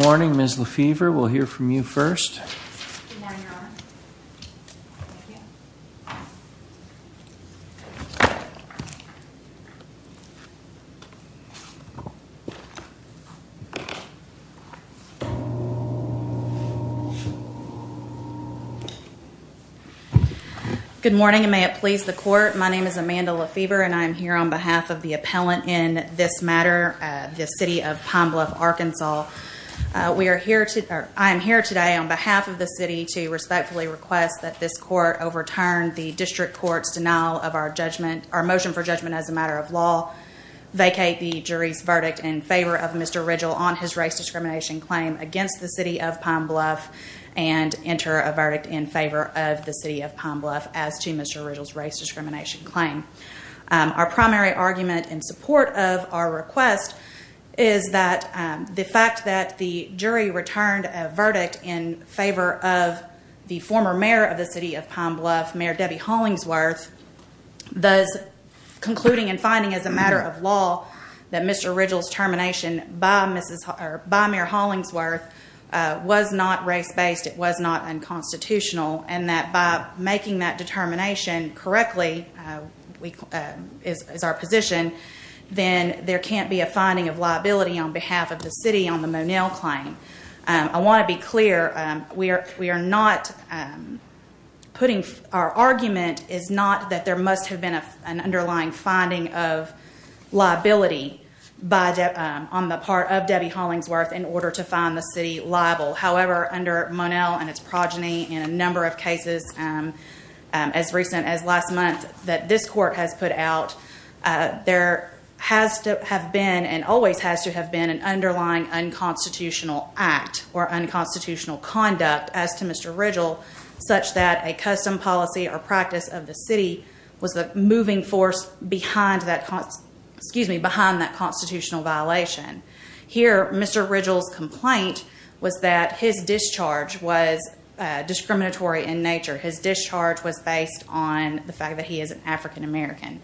Morning, Ms. LaFever, we'll hear from you first. Good morning and may it please the court. My name is Amanda LaFever and I'm here on behalf of the appellant in this matter, the City of Pine Bluff, Arkansas. I am here today on behalf of the city to respectfully request that this court overturn the district court's denial of our judgment, our motion for judgment as a matter of law, vacate the jury's verdict in favor of Mr. Ridgell on his race discrimination claim against the City of Pine Bluff and enter a verdict in favor of the City of Pine Bluff as to Mr. Ridgell's race discrimination claim. Our primary argument in support of our request is that the fact that the jury returned a verdict in favor of the former mayor of the City of Pine Bluff, Mayor Debbie Hollingsworth, thus concluding and finding as a matter of law that Mr. Ridgell's termination by Mayor Hollingsworth was not race-based, it was not unconstitutional and that by making that determination correctly is our position, then there can't be a finding of liability on behalf of the city on the Monell claim. I want to be clear, we are not putting, our argument is not that there must have been an underlying finding of liability on the part of Debbie Hollingsworth in order to find the city liable. However, under Monell and its progeny in a number of cases as recent as last month that this court has put out there has to have been and always has to have been an underlying unconstitutional act or unconstitutional conduct as to Mr. Ridgell such that a custom policy or practice of the city was the moving force behind that constitutional violation. Here Mr. Ridgell's complaint was that his discharge was based on the fact that he is an African-American.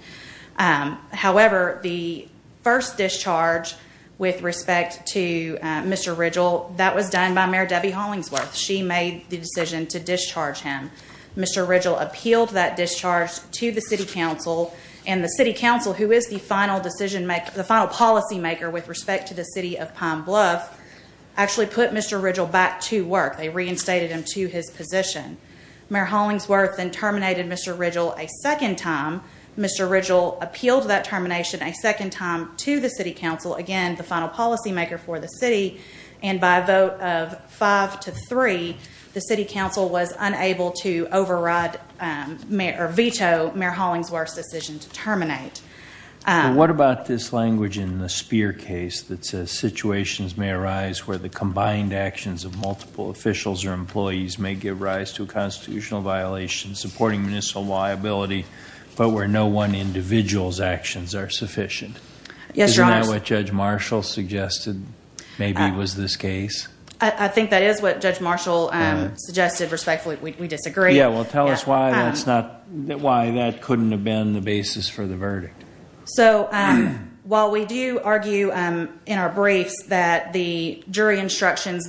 However, the first discharge with respect to Mr. Ridgell, that was done by Mayor Debbie Hollingsworth. She made the decision to discharge him. Mr. Ridgell appealed that discharge to the City Council and the City Council, who is the final policymaker with respect to the city of Pine Bluff, actually put Mr. Ridgell back to work. They reinstated him to his position. Mayor Hollingsworth then terminated Mr. Ridgell a second time. Mr. Ridgell appealed that termination a second time to the City Council, again the final policymaker for the city, and by a vote of five to three, the City Council was unable to override or veto Mayor Hollingsworth's decision to terminate. What about this language in the Spear case that says situations may arise where the combined actions of multiple officials or employees may give rise to a constitutional violation supporting municipal liability, but where no one individual's actions are sufficient. Isn't that what Judge Marshall suggested maybe was this case? I think that is what Judge Marshall suggested. Respectfully, we disagree. Tell us why that couldn't have been the basis for the verdict. While we do argue in our briefs that the instructions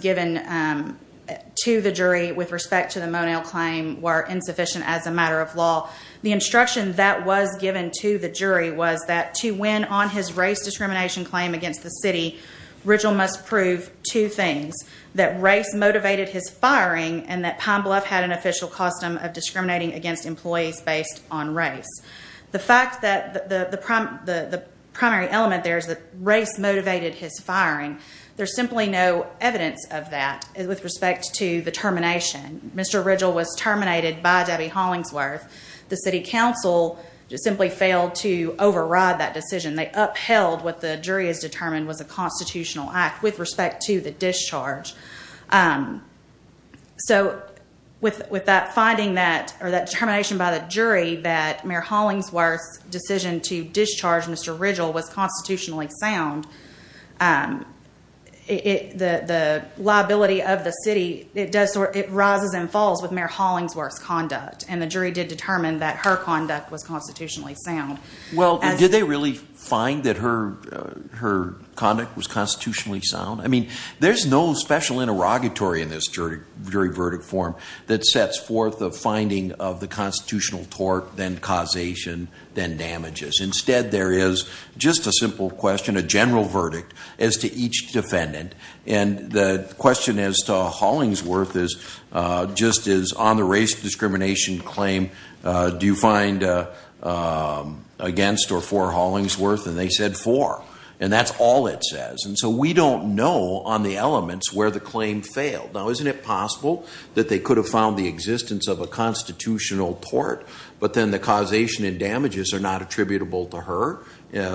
to the jury with respect to the Monell claim were insufficient as a matter of law, the instruction that was given to the jury was that to win on his race discrimination claim against the city, Ridgell must prove two things. That race motivated his firing and that Pine Bluff had an official custom of discriminating against employees based on race. The fact that the primary element there is that race motivated his firing. There's simply no evidence of that with respect to the termination. Mr. Ridgell was terminated by Debbie Hollingsworth. The city council simply failed to override that decision. They upheld what the jury has determined was a constitutional act with respect to the discharge. With that determination by the jury that Mayor Hollingsworth's decision to discharge Mr. Ridgell was constitutionally sound, the liability of the city rises and falls with Mayor Hollingsworth's conduct. The jury did determine that her conduct was constitutionally sound. Did they really find that her conduct was constitutionally sound? There's no special interrogatory in this jury verdict form that sets forth a finding of the constitutional tort, then causation, then damages. Instead, there is just a simple question, a general verdict, as to each defendant. The question as to Hollingsworth is on the race discrimination claim, do you find against or for Hollingsworth? They said for. That's all it says. We don't know on the elements where the claim failed. Now, isn't it possible that they could have found the damages are not attributable to her,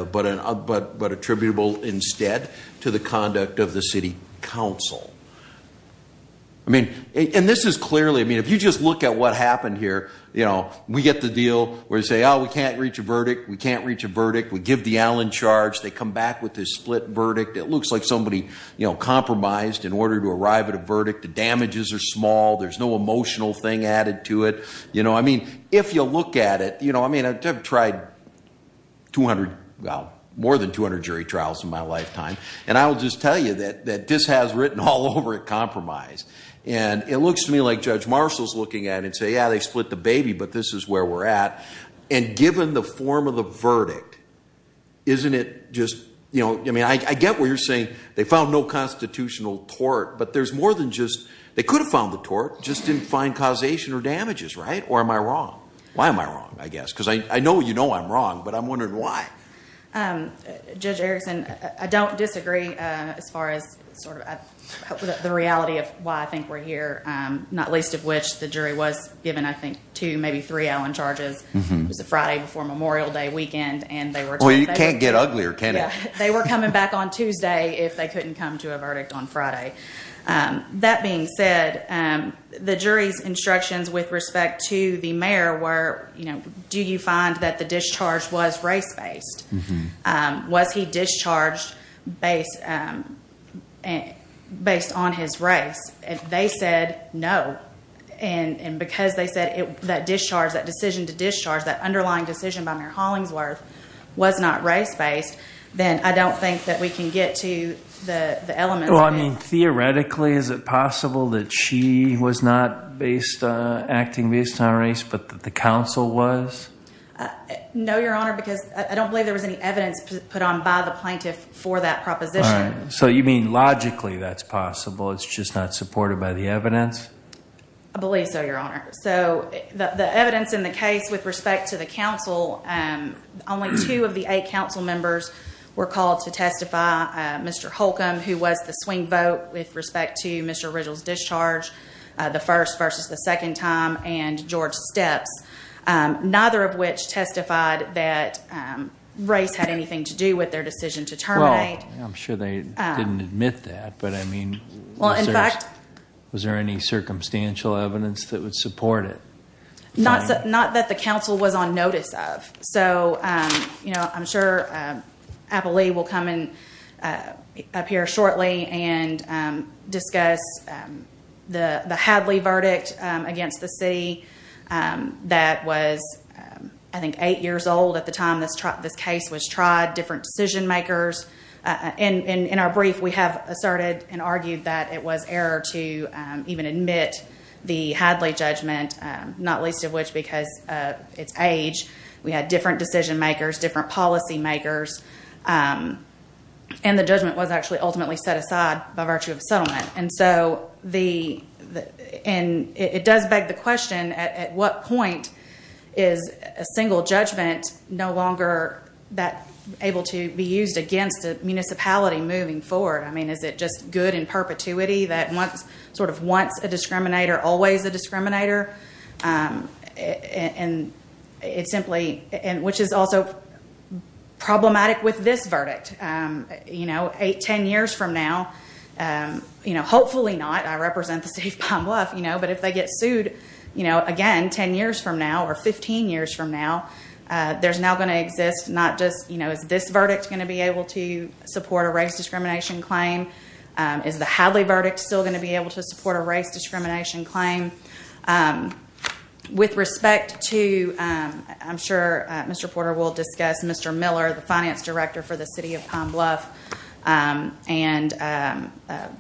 but attributable instead to the conduct of the city council? I mean, and this is clearly, I mean, if you just look at what happened here, you know, we get the deal where they say, oh, we can't reach a verdict. We can't reach a verdict. We give the Allen charge. They come back with this split verdict. It looks like somebody, you know, compromised in order to arrive at a verdict. The damages are small. There's no emotional thing added to it. You know, I mean, if you look at it, you know, I mean, I've tried 200, well, more than 200 jury trials in my lifetime, and I will just tell you that this has written all over it compromise. And it looks to me like Judge Marshall's looking at it and say, yeah, they split the baby, but this is where we're at. And given the form of the verdict, isn't it just, you know, I mean, I get where you're saying they found no constitutional tort, but there's more than just, they could have found the tort, just didn't find causation or damages, right? Or am I wrong? Why am I wrong, I guess? Because I know you know I'm wrong, but I'm wondering why. Judge Erickson, I don't disagree as far as sort of the reality of why I think we're here, not least of which the jury was given, I think, two, maybe three Allen charges. It was a Friday before Memorial Day weekend, and they were... Well, you can't get uglier, can you? They were coming back on Tuesday if they couldn't come to a verdict on Friday. That being said, the jury's instructions with respect to the mayor were do you find that the discharge was race-based? Was he discharged based on his race? If they said no, and because they said that discharge, that decision to discharge, that underlying decision by Mayor Hollingsworth was not race-based, then I don't think that we can get to the elements of it. Well, I mean, theoretically, is it possible that she was not acting based on race, but that the council was? No, Your Honor, because I don't believe there was any evidence put on by the plaintiff for that proposition. So you mean logically that's possible, it's just not supported by the evidence? I believe so, Your Honor. So the evidence in the case with respect to the council, only two of the eight council members were called to testify. Mr. Holcomb, who was the swing vote with respect to Mr. Riddle's discharge, the first versus the second time, and George Steps, neither of which testified that race had anything to do with their decision to terminate. Well, I'm sure they didn't admit that, but I mean, was there any circumstantial evidence that would support it? Not that the council was on notice of. So I'm sure Apolli will come and appear shortly and discuss the Hadley verdict against the city that was I think eight years old at the time this case was tried, different decision makers. In our brief, we have asserted and argued that it was error to even admit the Hadley judgment, not least of which because of its age. We had different decision makers, different policy makers, and the judgment was actually ultimately set aside by virtue of settlement. It does beg the question, at what point is a single judgment no longer able to be used against a municipality moving forward? I mean, is it just good in perpetuity that once a discriminator always a discriminator? Which is also problematic with this verdict. Eight, ten years from now, hopefully not, I represent the city of Palm Bluff, but if they get sued again ten years from now or fifteen years from now, there's now going to exist not just is this verdict going to be able to support a race discrimination claim? Is the Hadley verdict still going to be able to support a race discrimination claim? With respect to I'm sure Mr. Porter will discuss Mr. Miller, the finance director for the city of Palm Bluff, and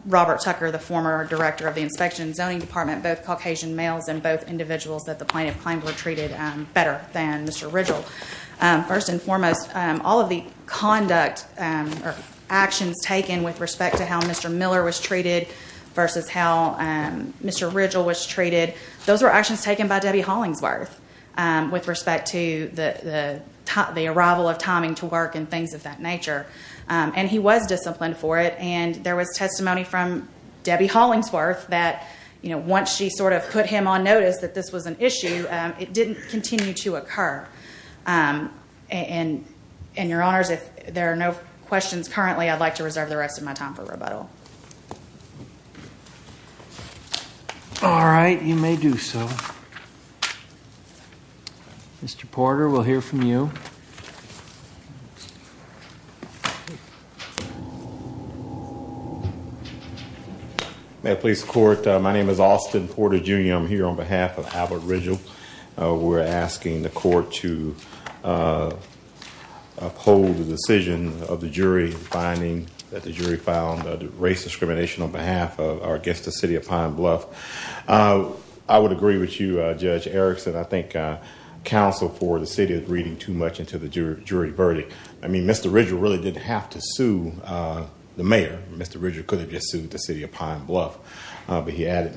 Robert Tucker, the former director of the Inspection and Zoning Department, both Caucasian males and both individuals that the plaintiff claimed were treated better than Mr. Ridgel. First and foremost, all of the conduct or actions taken with respect to how Mr. Miller was treated versus how Mr. Ridgel was treated, those were actions taken by Debbie Hollingsworth with respect to the arrival of timing to work and things of that nature. And he was disciplined for it, and there was testimony from Debbie Hollingsworth that once she sort of put him on notice that this was an issue it didn't continue to occur. And your honors, if there are no questions currently, I'd like to reserve the rest of my time for rebuttal. All right, you may do so. Mr. Porter, we'll hear from you. May I please the court? My name is Austin Porter, Jr. I'm here on behalf of Albert Ridgel. We're asking the court to uphold the decision of the jury finding that the jury found race discrimination on behalf of or against the city of Pine Bluff. I would agree with you, Judge Erickson. I think counsel for the city is reading too much into the jury verdict. I mean, Mr. Ridgel really didn't have to sue the mayor. Mr. Ridgel could have just sued the city of Pine Bluff. But he added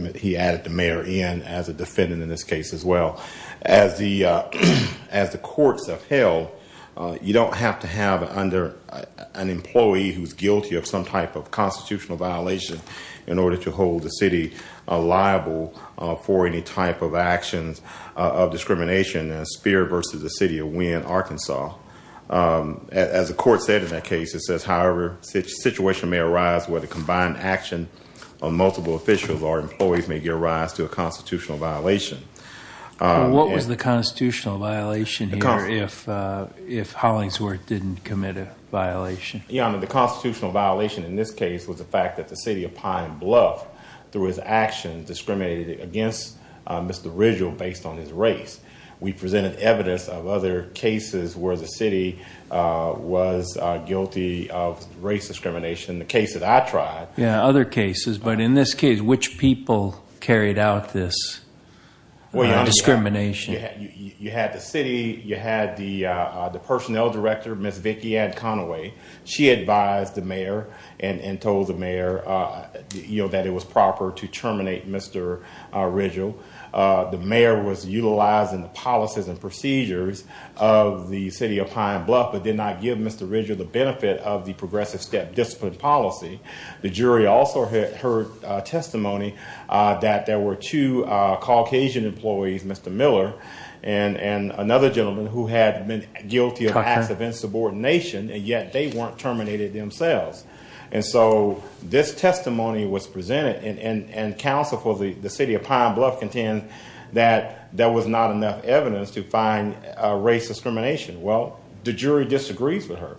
the mayor in as a defendant in this case as well. As the courts have held, you don't have to have under an employee who's guilty of some type of constitutional violation in order to hold the city liable for any type of actions of discrimination as Speer versus the city of Winn, Arkansas. As the court said in that case, it says, however, the situation may arise where the combined action of multiple officials or employees may give rise to a constitutional violation. What was the constitutional violation here if Hollingsworth didn't commit a violation? The constitutional violation in this case was the fact that the city of Pine Bluff through his actions discriminated against Mr. Ridgel based on his race. We presented evidence of other cases where the city was guilty of race discrimination in the case that I tried. Other cases, but in this case, which people carried out this discrimination? You had the city, you had the personnel director, Miss Vicky Anne Conaway. She advised the mayor and told the mayor that it was proper to terminate Mr. Ridgel. The mayor was utilizing the policies and procedures of the city of Pine Bluff, but did not give Mr. Ridgel the benefit of the progressive step discipline policy. The jury also heard testimony that there were two Caucasian employees, Mr. Miller and another gentleman who had been guilty of acts of insubordination, and yet they weren't terminated themselves. This testimony was presented and counsel for the city of Pine Bluff contends that there was not enough evidence to find race discrimination. The jury disagrees with her.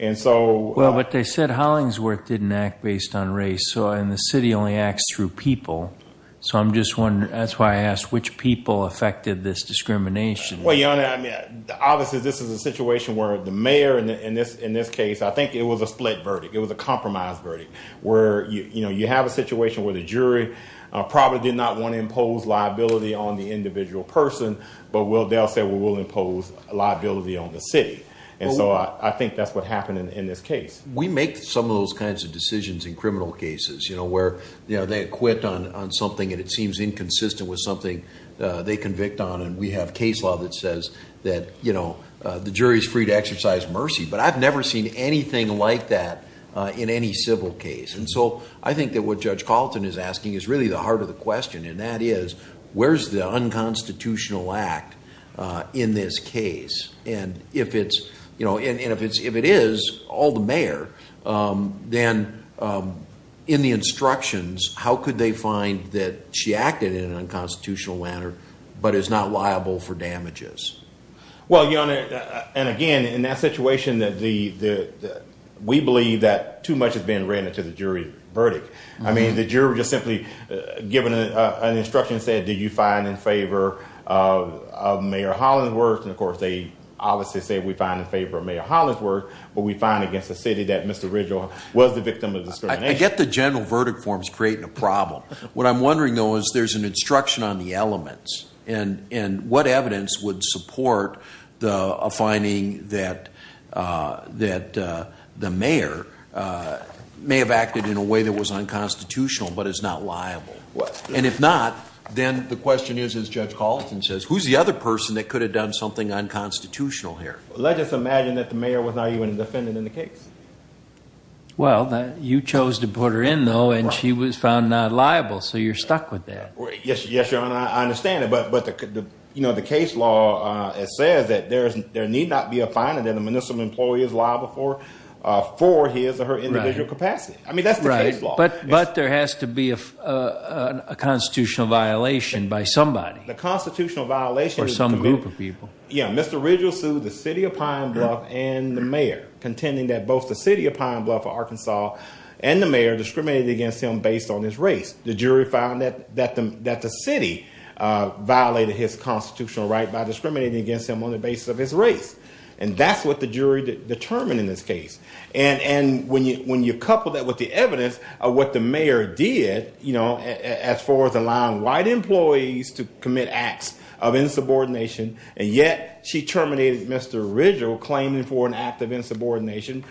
But they said Hollingsworth didn't act based on race, and the city only acts through people. So I'm just wondering, that's why I asked, which people affected this discrimination? Well, Your Honor, obviously this is a situation where the mayor in this case, I think it was a split verdict. It was a compromise verdict where you have a situation where the jury probably did not want to impose liability on the individual person, but they'll say, well, we'll impose liability on the city. And so I think that's what happened in this case. We make some of those kinds of decisions in criminal cases where they acquit on something and it seems inconsistent with something they convict on, and we have case law that says that the jury is free to exercise mercy. But I've never seen anything like that in any civil case. And so I think that what Judge Colleton is asking is really the heart of the question, and that is, where's the unconstitutional act in this case? And if it is, all the mayor, then in the instructions, how could they find that she acted in an unconstitutional manner, but is not liable for damages? Well, Your Honor, and again in that situation, we believe that too much has been written to the jury's verdict. I mean, the jury just simply given an instruction said, do you find in favor of Mayor Hollingsworth? And of course, they obviously say we find in favor of Mayor Hollingsworth, but we find against the city that Mr. Ridgewell was the victim of discrimination. I get the general verdict forms creating a problem. What I'm wondering, though, is there's an instruction on the elements, and what evidence would support a finding that the mayor may have acted in a way that was unconstitutional but is not liable? And if not, then the question is, as Judge Colleton says, who's the other person that could have done something unconstitutional here? Let's just imagine that the mayor was not even a defendant in the case. Well, you chose to put her in, though, and she was found not liable, so you're stuck with that. Yes, Your Honor, I understand that, but the case law says that there need not be a finding that a municipal employee is liable for his or her individual capacity. I mean, that's the case law. But there has to be a constitutional violation by somebody. The constitutional violation is by some group of people. Yeah, Mr. Ridgewell sued the city of Pine Bluff and the mayor, contending that both the city of Pine Bluff, Arkansas, and the mayor discriminated against him based on his race. The jury found that the city violated his constitutional right by discriminating against him on the basis of his race. And that's what the jury determined in this case. And when you couple that with the evidence of what the mayor did, you know, as far as allowing white employees to be terminated, and yet she terminated Mr. Ridgewell claiming for an act of insubordination,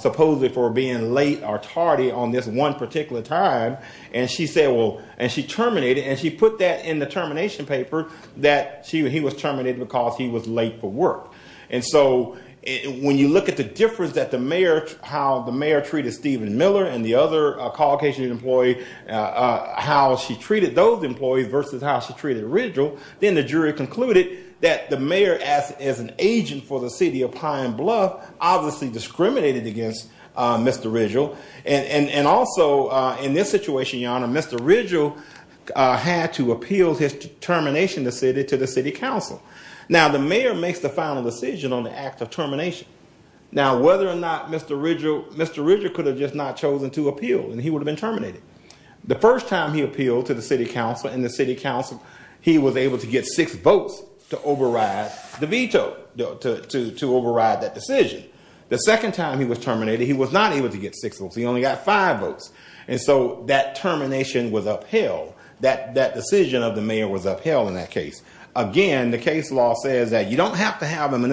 supposedly for being late or tardy on this one particular time. And she said, well, and she terminated and she put that in the termination paper that he was terminated because he was late for work. And so when you look at the difference that the mayor, how the mayor treated Stephen Miller and the other Caucasian employee, how she treated those employees versus how she treated Ridgewell, then the jury concluded that the mayor, as an agent for the city of Pine Bluff, obviously discriminated against Mr. Ridgewell. And also, in this situation, Your Honor, Mr. Ridgewell had to appeal his termination to the city council. Now, the mayor makes the final decision on the act of termination. Now, whether or not Mr. Ridgewell could have just not chosen to appeal and he would have been terminated. The first time he was terminated in the city council, he was able to get six votes to override the veto, to override that decision. The second time he was terminated, he was not able to get six votes. He only got five votes. And so that termination was upheld. That decision of the mayor was upheld in that case. Again, the case law says that you don't have to have an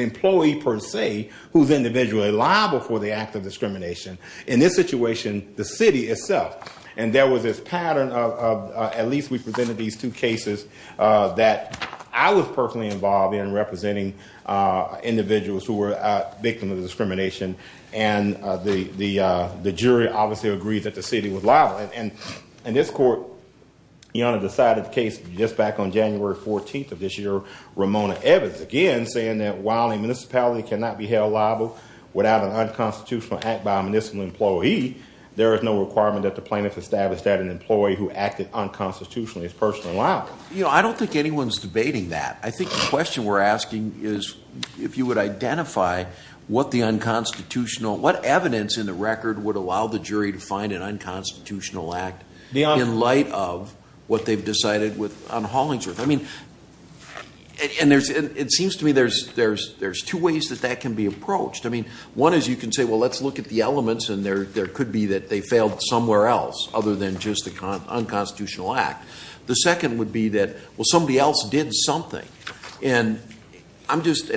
employee per se who is individually liable for the act of discrimination. In this situation, the city itself. And there was this pattern of, at least we presented these two cases that I was personally involved in representing individuals who were victims of discrimination. And the jury obviously agreed that the city was liable. And this court, Your Honor, decided the case just back on January 14th of this year, Ramona Evans, again, saying that while a municipality cannot be held liable without an unconstitutional act by a municipal employee, there is no requirement that the plaintiff establish that an employee who acted unconstitutionally is personally liable. I don't think anyone's debating that. I think the question we're asking is if you would identify what the unconstitutional, what evidence in the record would allow the jury to find an unconstitutional act in light of what they've decided on Hollingsworth. I mean, one is you can say, well, let's look at the elements, and there could be that they failed somewhere else other than just an unconstitutional act. The second would be that, well, somebody else did something. And I'm just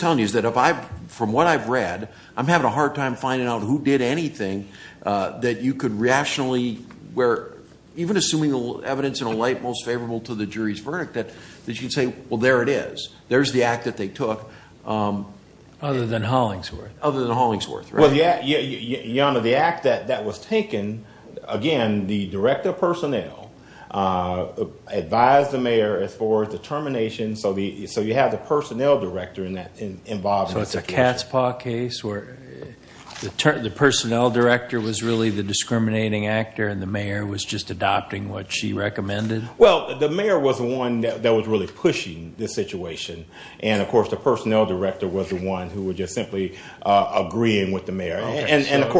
telling you that from what I've read, I'm having a hard time finding out who did anything that you could rationally where, even assuming the evidence in a light most favorable to the jury's verdict, that you'd say, well, there it is. There's the act that they took. Other than Hollingsworth. Other than Hollingsworth, right. The act that was taken, again, the director of personnel advised the mayor as far as the termination. So you have the personnel director involved. So it's a cat's paw case where the personnel director was really the discriminating actor and the mayor was just adopting what she recommended? Well, the mayor was the one that was really pushing this situation. And, of course, the personnel director was the one who was just simply agreeing with the mayor. And, of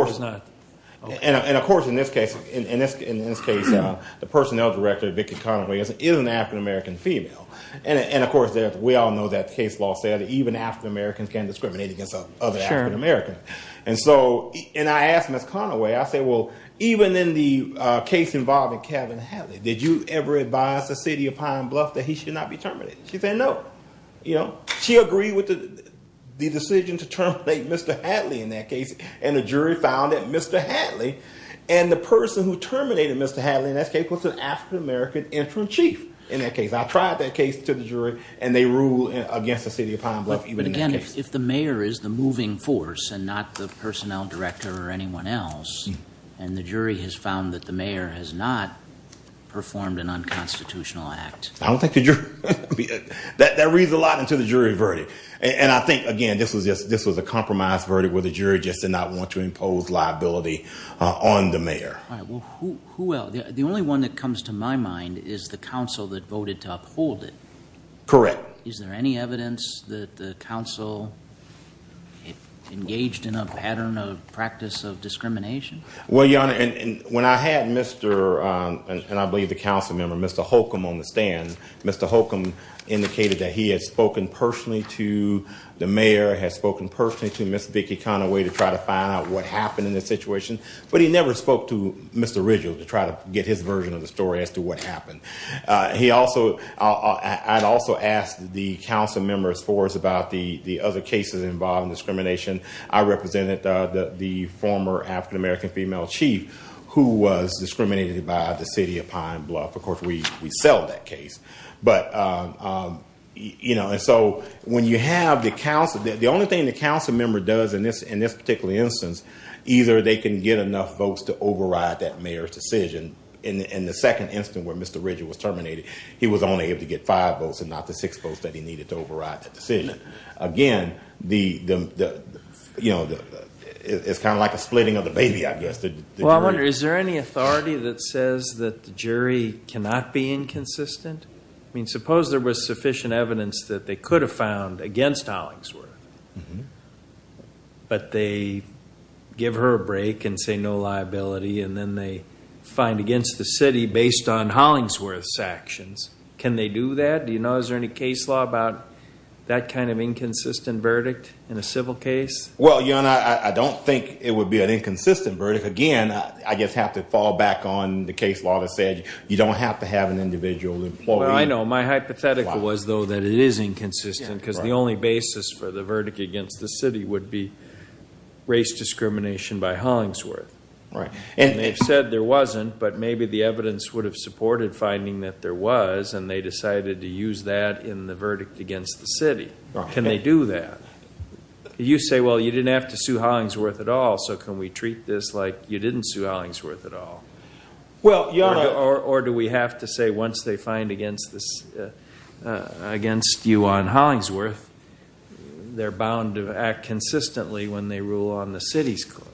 course, in this case, the personnel director, Vicki Conaway, is an African-American female. And, of course, we all know that the case law said that even African-Americans can't discriminate against other African-Americans. And I asked Ms. Conaway, I said, well, even in the case involving Kevin Hadley, did you ever advise the city of Pine Bluff that he should not be terminated? She said, no. She agreed with the decision to terminate Mr. Hadley in that case. And the jury found that Mr. Hadley and the person who terminated Mr. Hadley in that case was an African-American interim chief in that case. I tried that case to the jury and they ruled against the city of Pine Bluff even in that case. But, again, if the mayor is the moving force and not the personnel director or anyone else and the jury has found that the mayor has not performed an unconstitutional act. That reads a lot into the jury verdict. And I think, again, this was a compromised verdict where the jury just did not want to impose liability on the mayor. The only one that comes to my mind is the council that voted to uphold it. Correct. Is there any evidence that the council engaged in a pattern of practice of discrimination? Well, Your Honor, when I had Mr. and I believe the council member, Mr. Holcomb on the stand, Mr. Holcomb indicated that he had spoken personally to the mayor, had spoken personally to Ms. Vicki Conaway to try to find out what happened in this situation. But he never spoke to Mr. Ridgehill to try to get his version of the story as to what happened. He also, I'd also ask the council members for us about the other cases involving discrimination. I represented the former African-American female chief who was discriminated by the city of Pine Bluff. Of course, we sell that case. But, you know, and so when you have the council, the only thing the council member does in this particular instance, either they can get enough votes to override that mayor's decision. In the second instance where Mr. Ridgehill was terminated, he was only able to get five votes and not the six votes that he needed to override that decision. Again, the, you know, it's kind of like splitting of the baby, I guess. Well, I wonder, is there any authority that says that the jury cannot be inconsistent? I mean, suppose there was sufficient evidence that they could have found against Hollingsworth, but they give her a break and say no liability, and then they find against the city based on Hollingsworth's actions. Can they do that? Do you know, is there any case law about that kind of inconsistent verdict in a civil case? Well, you know, I don't think it would be an inconsistent verdict. Again, I just have to fall back on the case law that said you don't have to have an individual employee. Well, I know. My hypothetical was, though, that it is inconsistent because the only basis for the verdict against the city would be race discrimination by Hollingsworth. And they've said there wasn't, but maybe the evidence would have supported finding that there was, and they decided to use that in the verdict against the city. Can they do that? You say, well, you didn't have to sue Hollingsworth at all, so can we treat this like you didn't sue Hollingsworth at all? Or do we have to say once they find against you on Hollingsworth, they're bound to act consistently when they rule on the city's claim?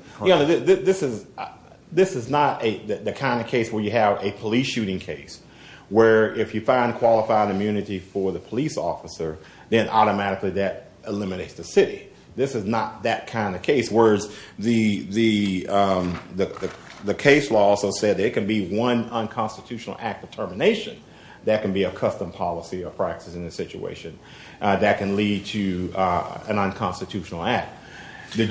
This is not the kind of case where you have a police shooting case where if you find qualified immunity for the police officer, then automatically that eliminates the city. This is not that kind of case, whereas the case law also said there can be one unconstitutional act of termination that can be a custom policy or practice in this situation that can lead to an unconstitutional act. Go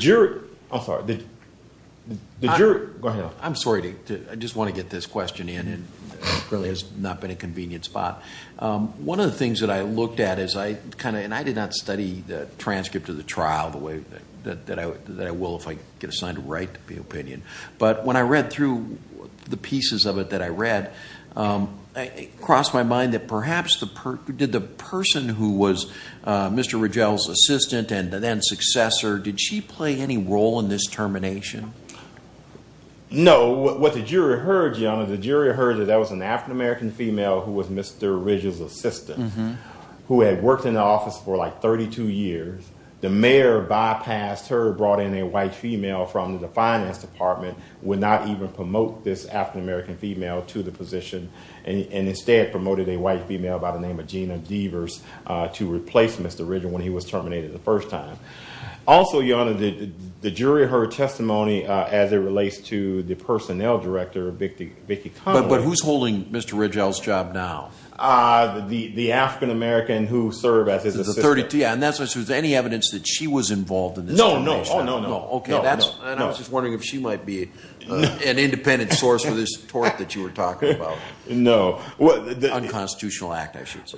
ahead. I'm sorry. I just want to get this question in. It really has not been a convenient spot. One of the things that I looked at, and I did not study the transcript of the trial the way that I will if I get assigned to write the opinion, but when I read through the pieces of it that I read, it crossed my mind that perhaps did the person who was Mr. Ridgell's assistant and then successor, did she play any role in this termination? No. What the jury heard, Your Honor, the jury heard that that was an African-American female who was Mr. Ridgell's assistant who had worked in the office for like 32 years. The mayor bypassed her, brought in a white female from the finance department, would not even promote this African-American female to the position and instead promoted a white female by the name of Gina Deavers to replace Mr. Ridgell when he was terminated the first time. Also, Your Honor, the jury heard testimony as it relates to the personnel director Vicki Conaway. But who's holding Mr. Ridgell's job now? The African-American who served as his assistant. Any evidence that she was involved in this termination? No, no, no. I was just wondering if she might be an independent source for this tort that you were talking about. No. Unconstitutional act, I should say.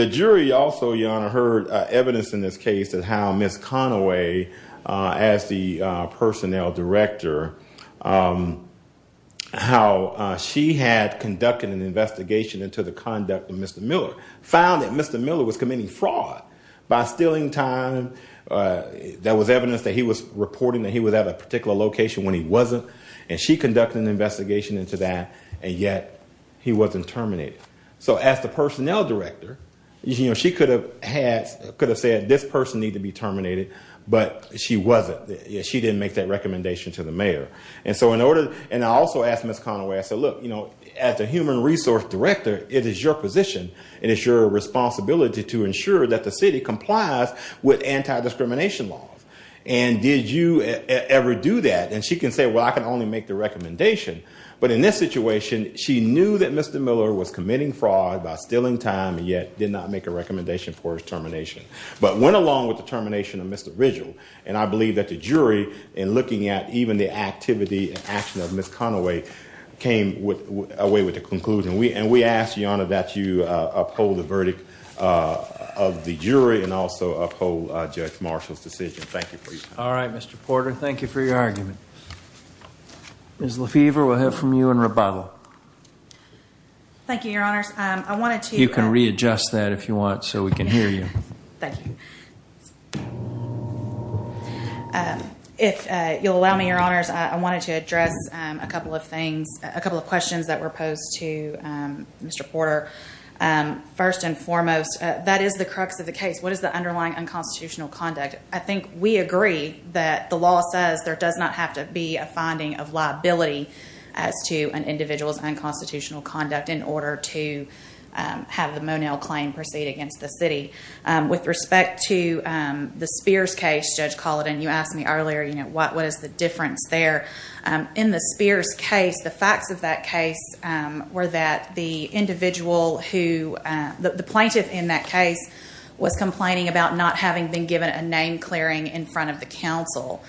The jury also, Your Honor, heard evidence in this case of how Ms. Conaway, as the personnel director, how she had conducted an investigation into the conduct of Mr. Miller, found that Mr. Miller was committing fraud by stealing time. There was evidence that he was reporting that he was at a particular location when he wasn't, and she conducted an investigation into that, and yet he wasn't terminated. So as the personnel director, she could have said this person needs to be terminated, but she wasn't. She didn't make that recommendation to the mayor. And I also asked Ms. Conaway, I said, look, as the human resource director, it is your position and it's your responsibility to ensure that the city complies with anti-discrimination laws. And did you ever do that? And she can say, well, I can only make the recommendation. But in this situation, she knew that Mr. Miller was committing fraud by stealing time and yet did not make a recommendation for his termination, but went along with the termination of Mr. Ridgell. And I believe that the jury, in looking at even the activity and action of Ms. Conaway, came away with a conclusion. And we ask, Your Honor, that you uphold the verdict of the jury and also uphold Judge Marshall's decision. Thank you for your time. All right, Mr. Porter. Thank you for your argument. Ms. Lefevre, we'll hear from you in rebuttal. Thank you, Your Honors. You can readjust that if you want so we can hear you. Thank you. If you'll allow me, Your Honors, I wanted to address a couple of things, a couple of questions that were posed to Mr. Porter. First and foremost, that is the crux of the case. What is the underlying unconstitutional conduct? I think we agree that the law says there does not have to be a finding of liability as to an individual's unconstitutional conduct in order to have the Monell claim proceed against the city. With respect to the Spears case, Judge Colleton, you asked me earlier, what is the difference there? In the Spears case, the facts of that case were that the plaintiff in that case was complaining about not having been given a name clearing in front of the counsel.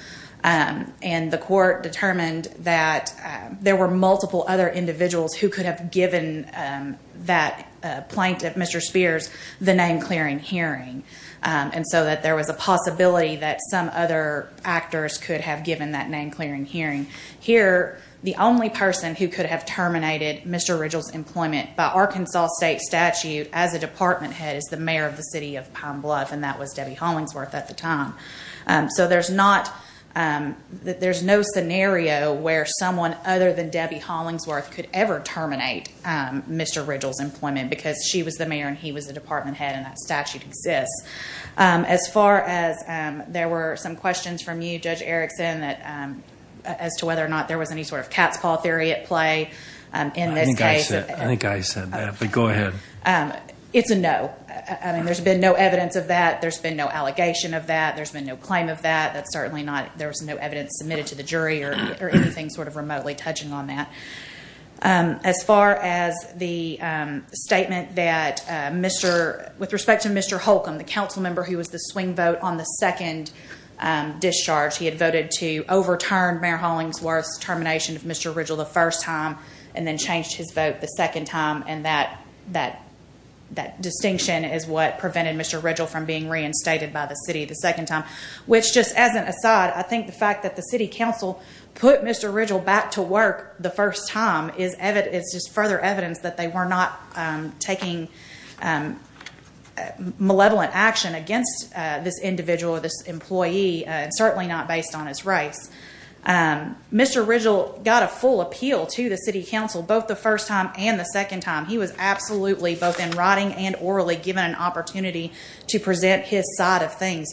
And the court determined that there were multiple other individuals who could have given that plaintiff, Mr. Spears, the name clearing hearing. And so that there was a possibility that some other actors could have given that name clearing hearing. Here, the only person who could have terminated Mr. Ridgell's employment by Arkansas state statute as a department head is the mayor of the city of Palm Bluff, and that was Debbie Hollingsworth at the time. So there's not there's no scenario where someone other than Debbie Hollingsworth could ever terminate Mr. Ridgell's employment because she was the mayor and he was the department head and that statute exists. As far as there were some questions from you, Judge Erickson, as to whether or not there was any sort of cat's paw theory at play in this case. I think I said that, but go ahead. It's a no. There's been no evidence of that. There's been no allegation of that. There's been no claim of that. There's no evidence submitted to the jury or anything remotely touching on that. As far as the statement that with respect to Mr. Holcomb, the council member who was the swing vote on the second discharge, he had voted to overturn Mayor Hollingsworth's termination of Mr. Ridgell the first time and then changed his vote the second time and that distinction is what prevented Mr. Ridgell from being reinstated by the city the second time, which just as an aside, I think the fact that the mayor was able to appeal back to work the first time is further evidence that they were not taking malevolent action against this individual or this employee and certainly not based on his race. Mr. Ridgell got a full appeal to the city council both the first time and the second time. He was absolutely both in writing and orally given an opportunity to present his side of things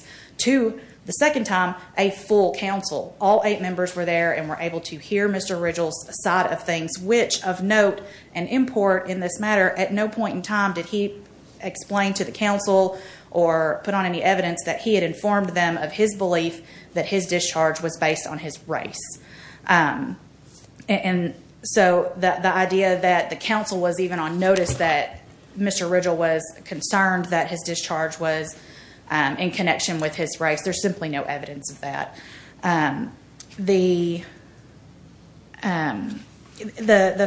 to the second time a full council. All eight members were there and were able to hear Mr. Ridgell's side of things, which of note and import in this matter at no point in time did he explain to the council or put on any evidence that he had informed them of his belief that his discharge was based on his race. And so the idea that the council was even on notice that Mr. Ridgell was concerned that his discharge was in connection with his race, there's simply no evidence of that. The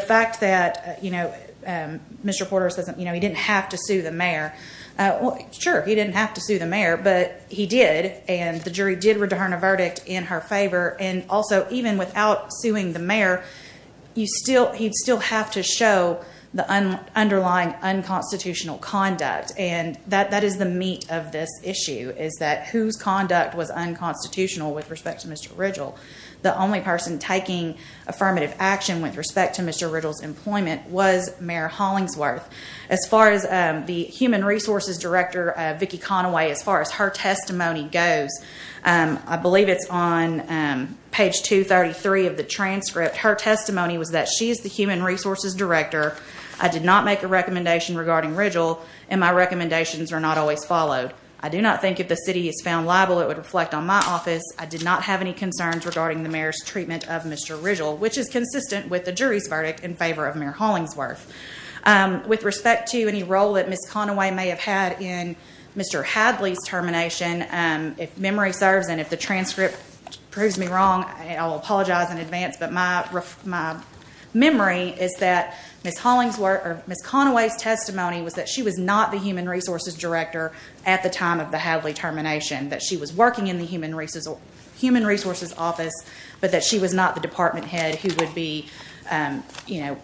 fact that Mr. Porter says he didn't have to sue the mayor. Sure, he didn't have to sue the mayor, but he did and the jury did return a verdict in her favor and also even without suing the mayor he'd still have to show the underlying unconstitutional conduct and that is the meat of this was unconstitutional with respect to Mr. Ridgell. The only person taking affirmative action with respect to Mr. Ridgell's employment was Mayor Hollingsworth. As far as the Human Resources Director Vicki Conaway, as far as her testimony goes I believe it's on page 233 of the transcript. Her testimony was that she is the Human Resources Director. I did not make a recommendation regarding Ridgell and my recommendations are not always followed. I do not think if the city is found liable it would reflect on my office. I did not have any concerns regarding the mayor's treatment of Mr. Ridgell, which is consistent with the jury's verdict in favor of Mayor Hollingsworth. With respect to any role that Ms. Conaway may have had in Mr. Hadley's termination if memory serves and if the transcript proves me wrong I will apologize in advance, but my memory is that Ms. Conaway's testimony was that she was not the Human Resources Director at the time of the Hadley termination, that she was working in the Human Resources Office, but that she was not the department head who would be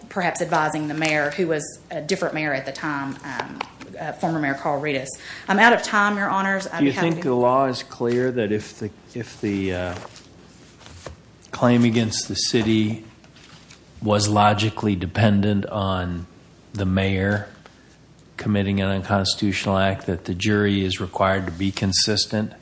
perhaps advising the mayor who was a different mayor at the time, former Mayor Carl Redis. I'm out of time, Your Honors. Do you think the law is clear that if was logically dependent on the mayor committing an unconstitutional act that the jury is required to be consistent?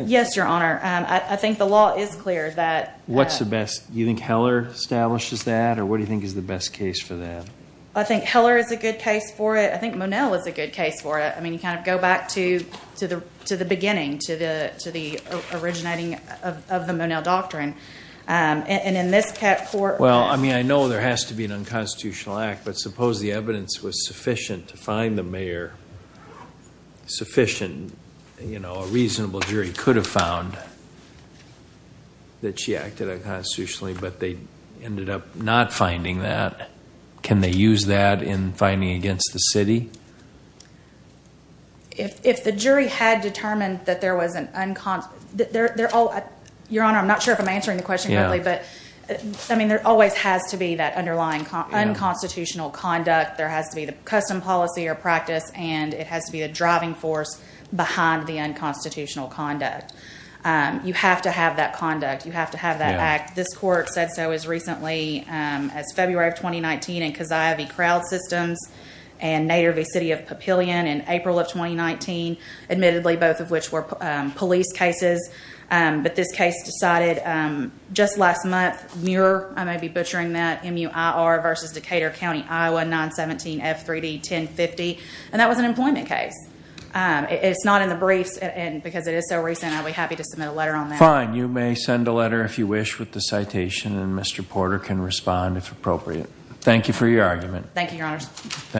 Yes, Your Honor. I think the law is clear that... What's the best? Do you think Heller establishes that or what do you think is the best case for that? I think Heller is a good case for it. I think Monell is a good case for it. I mean you kind of go back to the beginning to the originating of the Monell doctrine and in this court... Well, I mean I know there has to be an unconstitutional act, but suppose the evidence was sufficient to find the mayor sufficient, you know, a reasonable jury could have found that she acted unconstitutionally, but they ended up not finding that. Can they use that in finding against the city? If the jury had determined that there was an... Your Honor, I'm not sure if I'm answering the question correctly, but I mean there always has to be that underlying unconstitutional conduct. There has to be the custom policy or practice, and it has to be a driving force behind the unconstitutional conduct. You have to have that conduct. You have to have that act. This court said so as recently as February of 2019 in Keziah v. Crowd Systems and Nader v. City of Papillion in April of 2019, admittedly both of which were police cases, but this case decided just last month, Muir, I may be butchering that, M-U-I-R v. Decatur County, I-1-917-F-3-D-10-50, and that was an employment case. It's not in the briefs, and because it is so recent, I'd be happy to submit a letter on that. Fine. You may send a letter if you wish with the citation, and Mr. Porter can respond if appropriate. Thank you for your argument. Thank you, Your Honor.